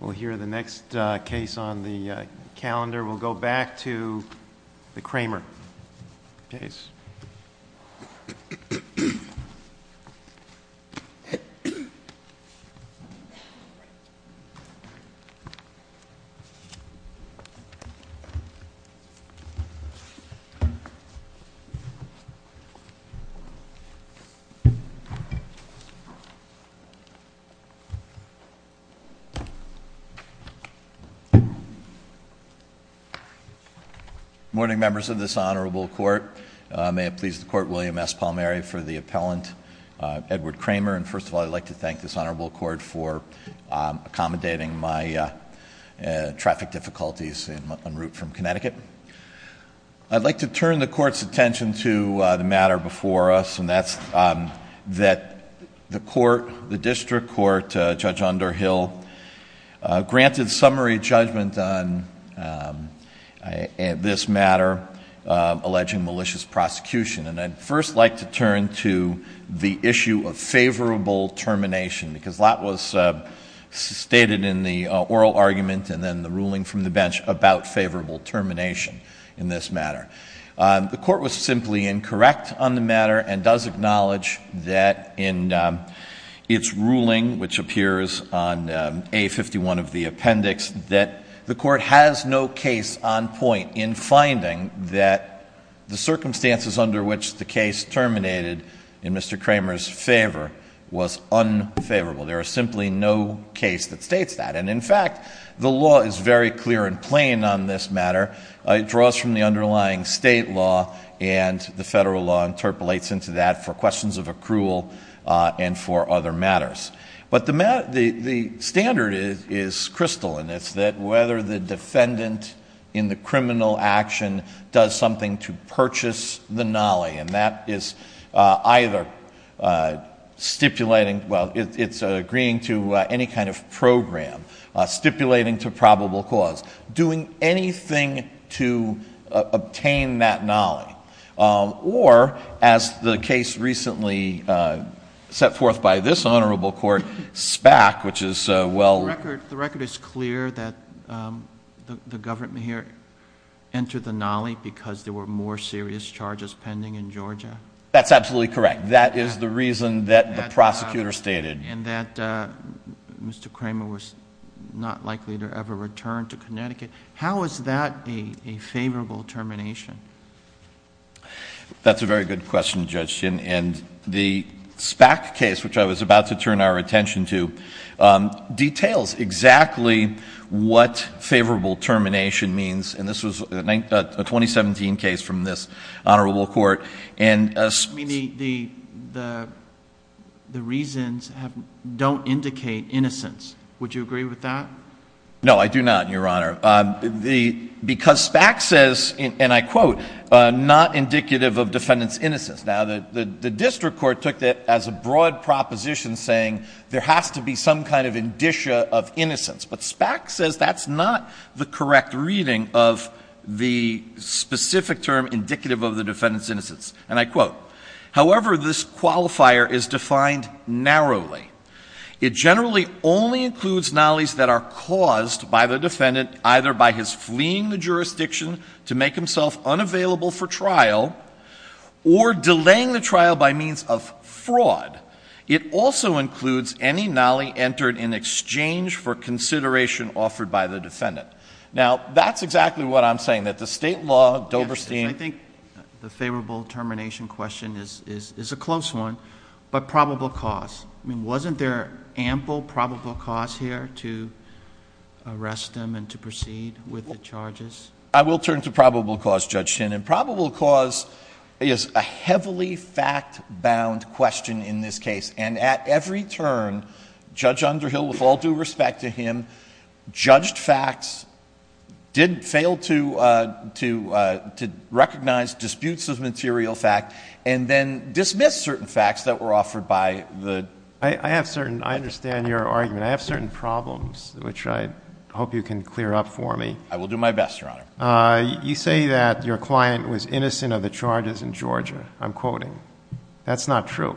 We'll hear the next case on the calendar. We'll go back to the Kramer case. Morning, members of this honorable court. May it please the court, William S. Palmeri for the appellant, Edward Kramer. And first of all, I'd like to thank this honorable court for accommodating my traffic difficulties en route from Connecticut. I'd like to turn the court's attention to the matter before us, and that's that the district court, Judge Underhill, granted summary judgment on this matter alleging malicious prosecution. And I'd first like to turn to the issue of favorable termination, because a lot was stated in the oral argument and then the ruling from the bench about favorable termination in this matter. The court was simply incorrect on the matter and does acknowledge that in its ruling, which appears on A51 of the appendix, that the court has no case on point in finding that the circumstances under which the case terminated in Mr. Kramer's favor was unfavorable. There is simply no case that states that. And in fact, the law is very clear and plain on this matter. It draws from the underlying state law, and the federal law interpolates into that for questions of accrual and for other matters. But the standard is crystal, and it's that whether the defendant in the criminal action does something to purchase the nolly, and that is either stipulating, well, it's agreeing to any kind of program, stipulating to probable cause, doing anything to obtain that nolly, or, as the case recently set forth by this honorable court, SPAC, which is well- The record is clear that the government here entered the nolly because there were more serious charges pending in Georgia? That's absolutely correct. That is the reason that the prosecutor stated. And that Mr. Kramer was not likely to ever return to Connecticut. How is that a favorable termination? That's a very good question, Judge Ginn. And the SPAC case, which I was about to turn our attention to, details exactly what favorable termination means. And this was a 2017 case from this honorable court. I mean, the reasons don't indicate innocence. Would you agree with that? No, I do not, Your Honor. Because SPAC says, and I quote, not indicative of defendant's innocence. Now, the district court took that as a broad proposition saying there has to be some kind of indicia of innocence. But SPAC says that's not the correct reading of the specific term indicative of the defendant's innocence. And I quote, However, this qualifier is defined narrowly. It generally only includes nollies that are caused by the defendant either by his fleeing the jurisdiction to make himself unavailable for trial or delaying the trial by means of fraud. It also includes any nolly entered in exchange for consideration offered by the defendant. Now, that's exactly what I'm saying. That the state law, Doverstein I think the favorable termination question is a close one. But probable cause. I mean, wasn't there ample probable cause here to arrest him and to proceed with the charges? I will turn to probable cause, Judge Ginn. Probable cause is a heavily fact-bound question in this case. And at every turn, Judge Underhill, with all due respect to him, judged facts, did fail to recognize disputes of material fact, and then dismissed certain facts that were offered by the. I have certain, I understand your argument. I have certain problems, which I hope you can clear up for me. I will do my best, Your Honor. You say that your client was innocent of the charges in Georgia. I'm quoting. That's not true.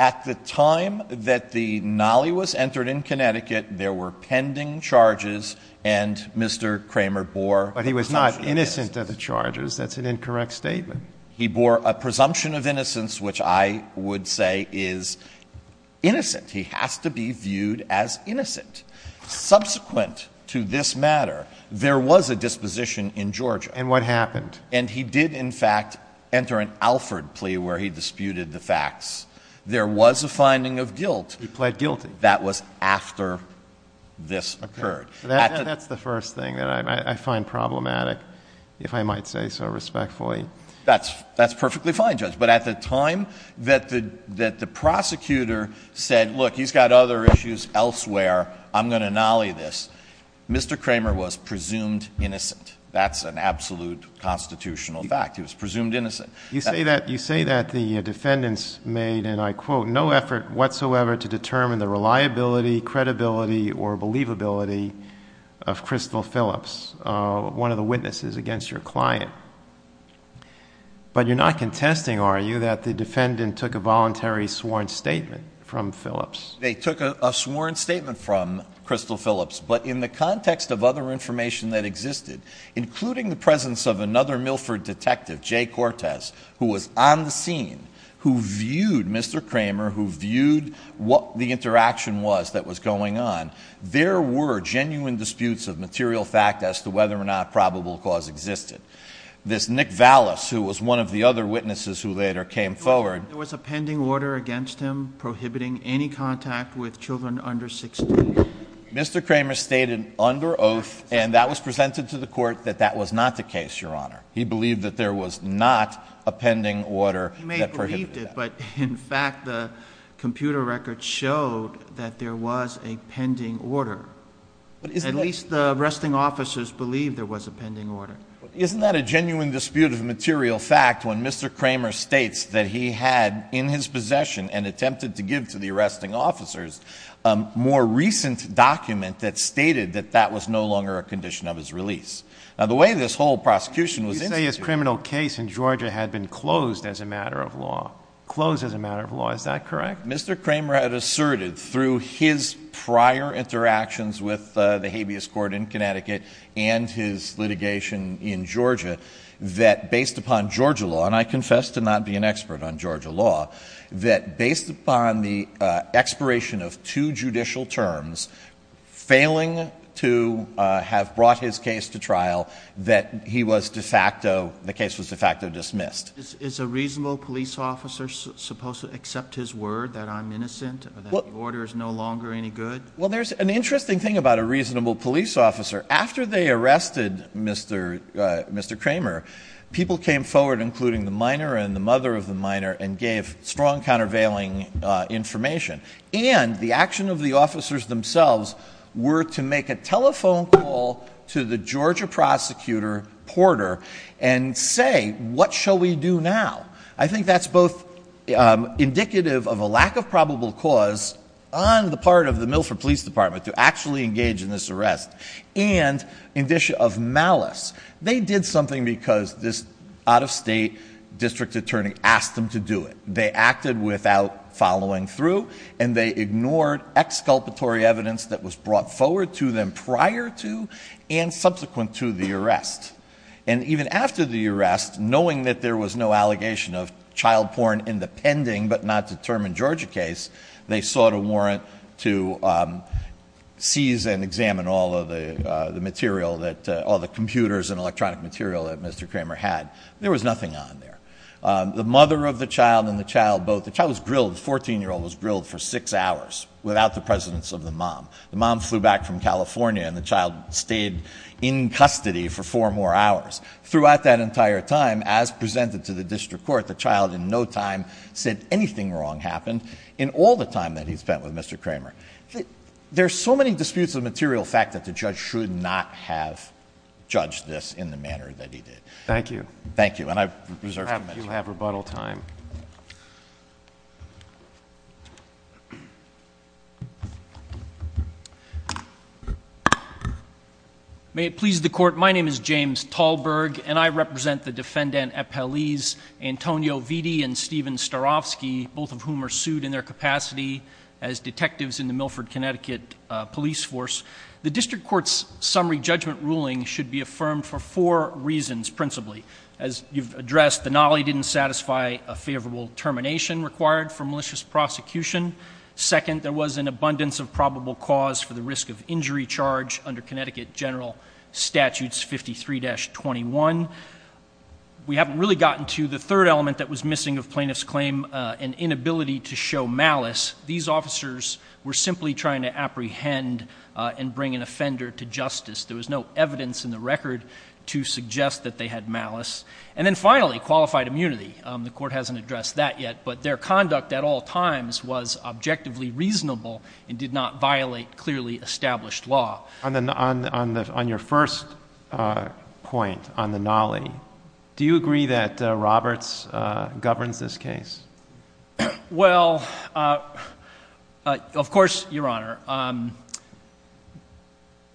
At the time that the nolly was entered in Connecticut, there were pending charges, and Mr. Kramer bore. But he was not innocent of the charges. That's an incorrect statement. He bore a presumption of innocence, which I would say is innocent. He has to be viewed as innocent. Subsequent to this matter, there was a disposition in Georgia. And what happened? And he did, in fact, enter an Alford plea where he disputed the facts. There was a finding of guilt. He pled guilty. That was after this occurred. That's the first thing that I find problematic, if I might say so respectfully. That's perfectly fine, Judge. But at the time that the prosecutor said, look, he's got other issues elsewhere, I'm going to nolly this, Mr. Kramer was presumed innocent. That's an absolute constitutional fact. He was presumed innocent. You say that the defendants made, and I quote, No effort whatsoever to determine the reliability, credibility, or believability of Crystal Phillips, one of the witnesses against your client. But you're not contesting, are you, that the defendant took a voluntary sworn statement from Phillips? They took a sworn statement from Crystal Phillips. But in the context of other information that existed, including the presence of another Milford detective, Jay Cortez, who was on the scene, who viewed Mr. Kramer, who viewed what the interaction was that was going on, there were genuine disputes of material fact as to whether or not probable cause existed. This Nick Vallis, who was one of the other witnesses who later came forward. There was a pending order against him prohibiting any contact with children under 16. Mr. Kramer stated under oath, and that was presented to the court, that that was not the case, Your Honor. He believed that there was not a pending order that prohibited that. He may have believed it, but in fact the computer record showed that there was a pending order. At least the arresting officers believed there was a pending order. Isn't that a genuine dispute of material fact when Mr. Kramer states that he had in his possession and attempted to give to the arresting officers a more recent document that stated that that was no longer a condition of his release? Now the way this whole prosecution was instituted. You say his criminal case in Georgia had been closed as a matter of law. Closed as a matter of law. Is that correct? Mr. Kramer had asserted through his prior interactions with the habeas court in Connecticut and his litigation in Georgia that based upon Georgia law, and I confess to not being an expert on Georgia law, that based upon the expiration of two judicial terms, failing to have brought his case to trial, that he was de facto, the case was de facto dismissed. Is a reasonable police officer supposed to accept his word that I'm innocent or that the order is no longer any good? Well, there's an interesting thing about a reasonable police officer. After they arrested Mr. Kramer, people came forward, including the minor and the mother of the minor, and gave strong countervailing information. And the action of the officers themselves were to make a telephone call to the Georgia prosecutor, Porter, and say, what shall we do now? I think that's both indicative of a lack of probable cause on the part of the Milford Police Department to actually engage in this arrest, and indicia of malice. They did something because this out-of-state district attorney asked them to do it. They acted without following through, and they ignored exculpatory evidence that was brought forward to them prior to and subsequent to the arrest. And even after the arrest, knowing that there was no allegation of child porn in the pending but not determined Georgia case, they sought a warrant to seize and examine all of the computers and electronic material that Mr. Kramer had. There was nothing on there. The mother of the child and the child both, the child was grilled, the 14-year-old was grilled for six hours without the presence of the mom. The mom flew back from California, and the child stayed in custody for four more hours. Throughout that entire time, as presented to the district court, the child in no time said anything wrong happened. In all the time that he spent with Mr. Kramer, there's so many disputes of material fact that the judge should not have judged this in the manner that he did. Thank you. Thank you. And I've reserved a minute. You have rebuttal time. Thank you. May it please the court, my name is James Tallberg, and I represent the defendant, Antonio Vitti and Steven Starofsky, both of whom are sued in their capacity as detectives in the Milford, Connecticut police force. The district court's summary judgment ruling should be affirmed for four reasons principally. As you've addressed, the nolly didn't satisfy a favorable termination required for malicious prosecution. Second, there was an abundance of probable cause for the risk of injury charge under Connecticut General Statutes 53-21. We haven't really gotten to the third element that was missing of plaintiff's claim, an inability to show malice. These officers were simply trying to apprehend and bring an offender to justice. There was no evidence in the record to suggest that they had malice. And then finally, qualified immunity. The court hasn't addressed that yet, but their conduct at all times was objectively reasonable and did not violate clearly established law. On your first point on the nolly, do you agree that Roberts governs this case? Well, of course, Your Honor.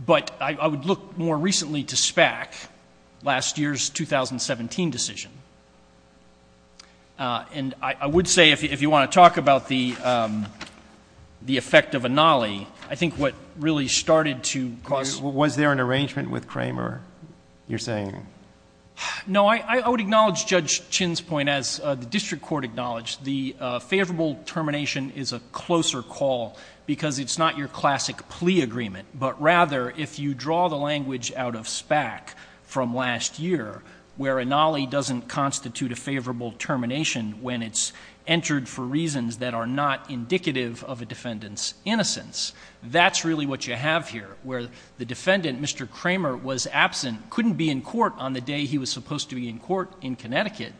But I would look more recently to SPAC, last year's 2017 decision. And I would say if you want to talk about the effect of a nolly, I think what really started to cause... Was there an arrangement with Kramer, you're saying? No. I would acknowledge Judge Chin's point, as the district court acknowledged. The favorable termination is a closer call, because it's not your classic plea agreement. But rather, if you draw the language out of SPAC from last year, where a nolly doesn't constitute a favorable termination... When it's entered for reasons that are not indicative of a defendant's innocence. That's really what you have here. Where the defendant, Mr. Kramer, was absent, couldn't be in court on the day he was supposed to be in court in Connecticut...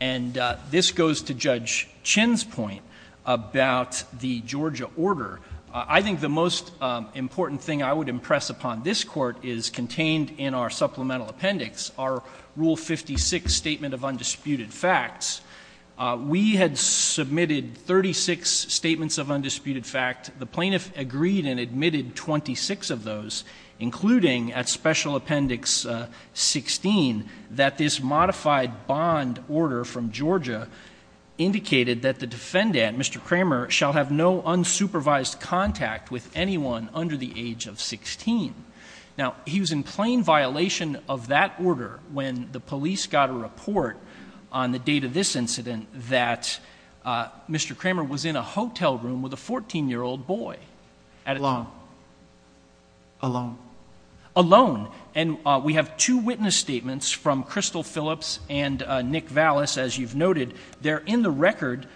And, this goes to Judge Chin's point about the Georgia order. I think the most important thing I would impress upon this court is contained in our supplemental appendix. Our Rule 56 Statement of Undisputed Facts. We had submitted 36 Statements of Undisputed Facts. The plaintiff agreed and admitted 26 of those. Including, at Special Appendix 16, that this modified bond order from Georgia... indicated that the defendant, Mr. Kramer, shall have no unsupervised contact with anyone under the age of 16. Now, he was in plain violation of that order, when the police got a report on the date of this incident... that Mr. Kramer was in a hotel room with a 14-year-old boy. Alone. Alone. Alone. And, we have two witness statements from Crystal Phillips and Nick Vallis, as you've noted. They're in the record,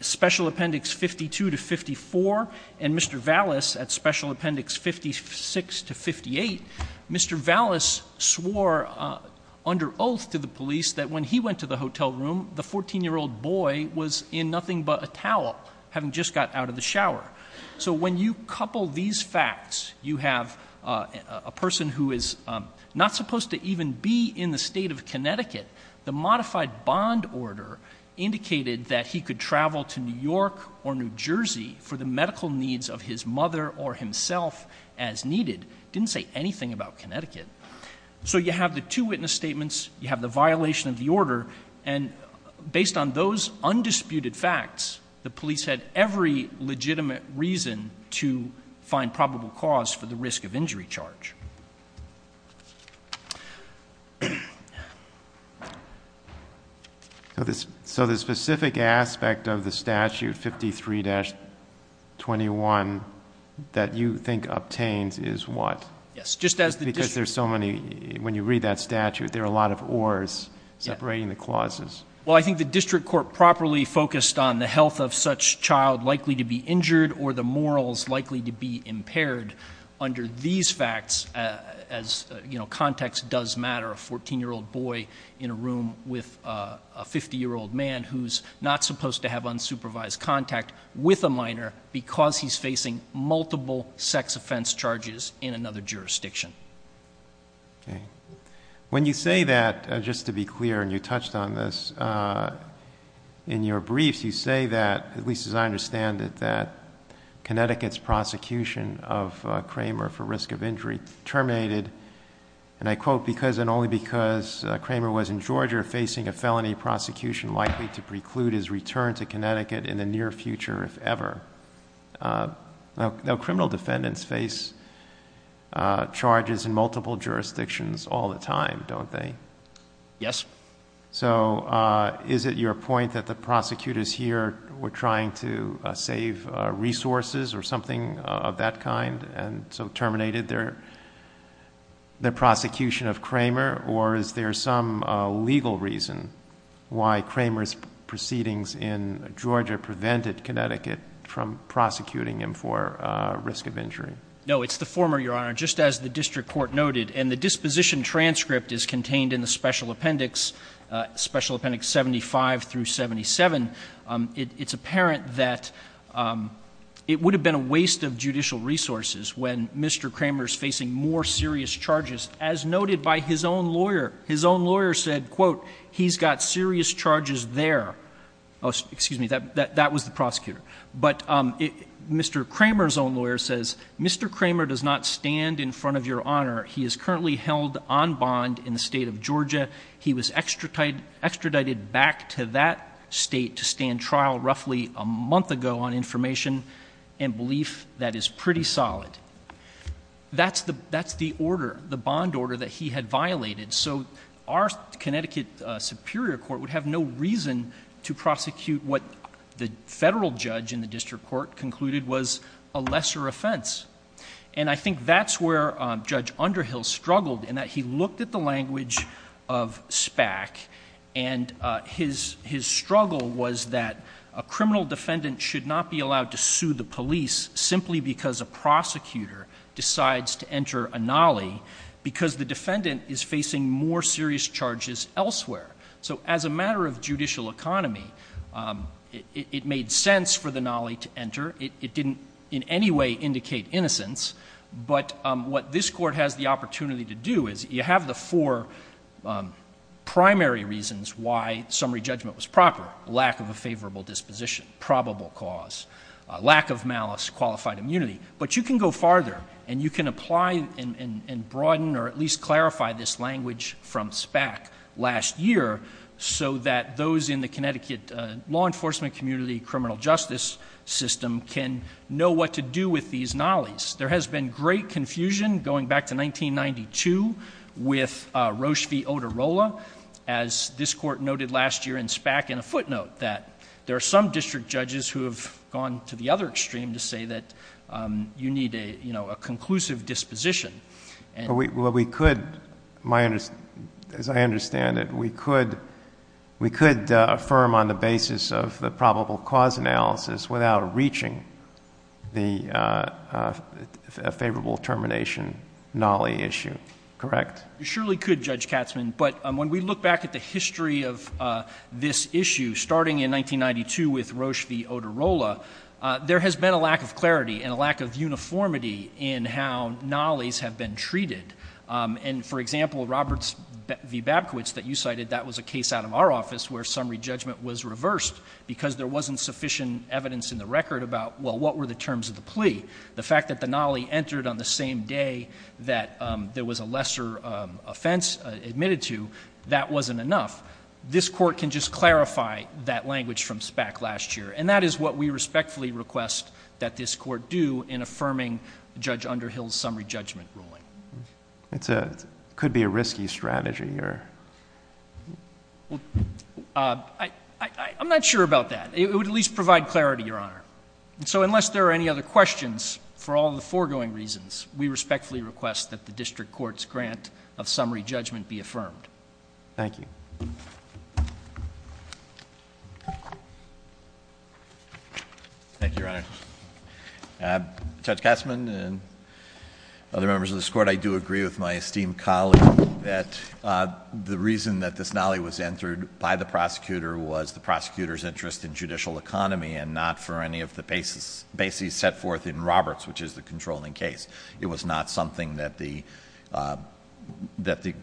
Special Appendix 52 to 54. And, Mr. Vallis at Special Appendix 56 to 58. Mr. Vallis swore under oath to the police, that when he went to the hotel room... So, when you couple these facts, you have a person who is not supposed to even be in the State of Connecticut. The modified bond order indicated that he could travel to New York or New Jersey... for the medical needs of his mother or himself, as needed. It didn't say anything about Connecticut. So, you have the two witness statements. You have the violation of the order. And, based on those undisputed facts, the police had every legitimate reason to find probable cause for the risk of injury charge. So, the specific aspect of the statute, 53-21, that you think obtains is what? Yes, just as the district... Well, I think the district court properly focused on the health of such child likely to be injured or the morals likely to be impaired. Under these facts, as you know, context does matter. A 14-year-old boy in a room with a 50-year-old man, who's not supposed to have unsupervised contact with a minor... because he's facing multiple sex offense charges in another jurisdiction. Okay. When you say that, just to be clear, and you touched on this in your briefs... you say that, at least as I understand it, that Connecticut's prosecution of Kramer for risk of injury terminated... and I quote, because and only because Kramer was in Georgia facing a felony prosecution... likely to preclude his return to Connecticut in the near future, if ever. Now, criminal defendants face charges in multiple jurisdictions all the time, don't they? Yes. So, is it your point that the prosecutors here were trying to save resources or something of that kind... and so terminated their prosecution of Kramer or is there some legal reason... from prosecuting him for risk of injury? No, it's the former, Your Honor. Just as the District Court noted and the disposition transcript is contained in the Special Appendix... Special Appendix 75 through 77. It's apparent that it would have been a waste of judicial resources when Mr. Kramer is facing more serious charges... as noted by his own lawyer. His own lawyer said, quote, he's got serious charges there. Oh, excuse me, that was the prosecutor. But, Mr. Kramer's own lawyer says, Mr. Kramer does not stand in front of Your Honor. He is currently held on bond in the state of Georgia. He was extradited back to that state to stand trial roughly a month ago on information and belief that is pretty solid. That's the order, the bond order that he had violated. So, our Connecticut Superior Court would have no reason to prosecute what the Federal Judge in the District Court concluded was a lesser offense. And, I think that's where Judge Underhill struggled in that he looked at the language of SPAC... and his struggle was that a criminal defendant should not be allowed to sue the police... So, as a matter of judicial economy, it made sense for the nolly to enter. It didn't, in any way, indicate innocence. But, what this Court has the opportunity to do is, you have the four primary reasons why summary judgment was proper. Lack of a favorable disposition, probable cause, lack of malice, qualified immunity. But, you can go farther and you can apply and broaden or at least clarify this language from SPAC... last year, so that those in the Connecticut law enforcement community criminal justice system can know what to do with these nollies. There has been great confusion going back to 1992 with Roche V. Oterola... as this Court noted last year in SPAC... And, a footnote that there are some district judges who have gone to the other extreme to say that you need a, you know, a conclusive disposition. Well, we could, as I understand it, we could affirm on the basis of the probable cause analysis... without reaching the favorable termination nolly issue. Correct? You surely could, Judge Katzman. But, when we look back at the history of this issue, starting in 1992 with Roche V. Oterola... there has been a lack of clarity and a lack of uniformity in how nollies have been treated. And, for example, Roberts v. Babkowitz that you cited, that was a case out of our office where summary judgment was reversed... because there wasn't sufficient evidence in the record about, well, what were the terms of the plea? The fact that the nolly entered on the same day that there was a lesser offense admitted to, that wasn't enough. This Court can just clarify that language from SPAC last year. And, that is what we respectfully request that this Court do in affirming Judge Underhill's summary judgment ruling. It could be a risky strategy or... Well, I'm not sure about that. It would at least provide clarity, Your Honor. So, unless there are any other questions, for all the foregoing reasons, we respectfully request that the District Court's grant of summary judgment be affirmed. Thank you. Thank you, Your Honor. Judge Katzman and other members of this Court, I do agree with my esteemed colleague that the reason that this nolly was entered by the prosecutor... was the prosecutor's interest in judicial economy and not for any of the bases set forth in Roberts, which is the controlling case. It was not something that the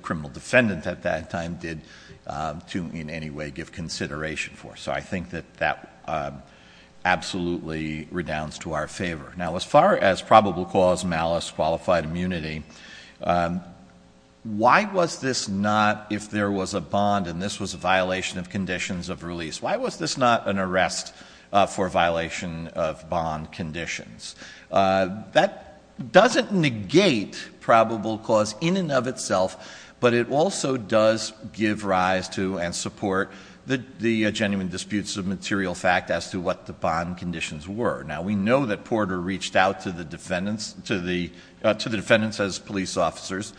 criminal defendant at that time did to, in any way, give consideration for. So, I think that that absolutely redounds to our favor. Now, as far as probable cause, malice, qualified immunity... Why was this not, if there was a bond and this was a violation of conditions of release, why was this not an arrest for violation of bond conditions? That doesn't negate probable cause in and of itself, but it also does give rise to and support the genuine disputes of material fact as to what the bond conditions were. Now, we know that Porter reached out to the defendants as police officers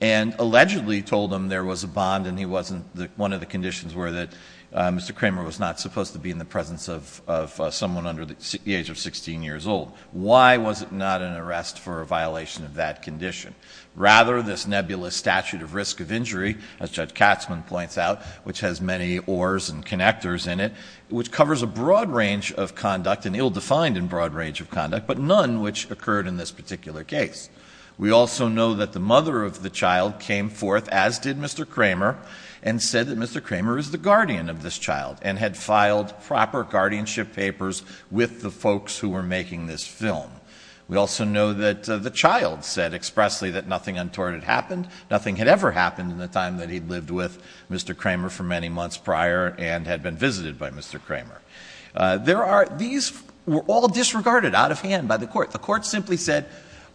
and allegedly told them there was a bond and he wasn't... One of the conditions were that Mr. Kramer was not supposed to be in the presence of someone under the age of 16 years old. Why was it not an arrest for a violation of that condition? Rather, this nebulous statute of risk of injury, as Judge Katzman points out, which has many ores and connectors in it... which covers a broad range of conduct and ill-defined in broad range of conduct, but none which occurred in this particular case. We also know that the mother of the child came forth, as did Mr. Kramer... and said that Mr. Kramer is the guardian of this child and had filed proper guardianship papers with the folks who were making this film. We also know that the child said expressly that nothing untoward had happened... to Mr. Kramer. There are... these were all disregarded out of hand by the court. The court simply said,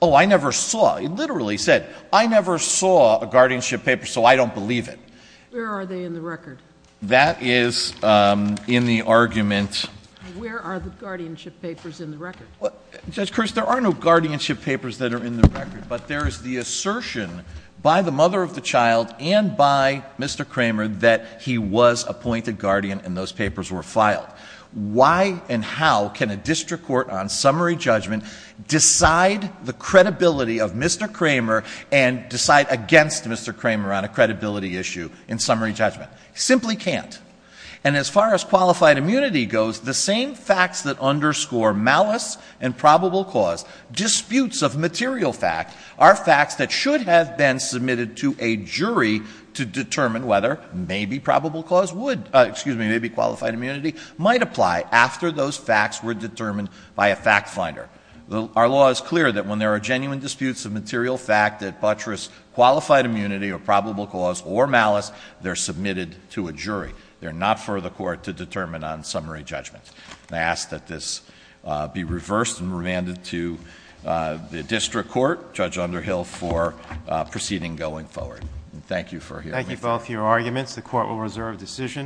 oh, I never saw... it literally said, I never saw a guardianship paper, so I don't believe it. Where are they in the record? That is in the argument... Where are the guardianship papers in the record? Judge Chris, there are no guardianship papers that are in the record, but there is the assertion... and by Mr. Kramer that he was appointed guardian and those papers were filed. Why and how can a district court on summary judgment decide the credibility of Mr. Kramer... and decide against Mr. Kramer on a credibility issue in summary judgment? Simply can't. And, as far as qualified immunity goes, the same facts that underscore malice and probable cause... to determine whether maybe probable cause would... excuse me, maybe qualified immunity... might apply after those facts were determined by a fact finder. Our law is clear that when there are genuine disputes of material fact that buttress qualified immunity or probable cause or malice... they're submitted to a jury. They're not for the court to determine on summary judgment. I ask that this be reversed and remanded to the district court, Judge Underhill, for proceeding going forward. Thank you for hearing me. Thank you both for your arguments. The court will reserve decision.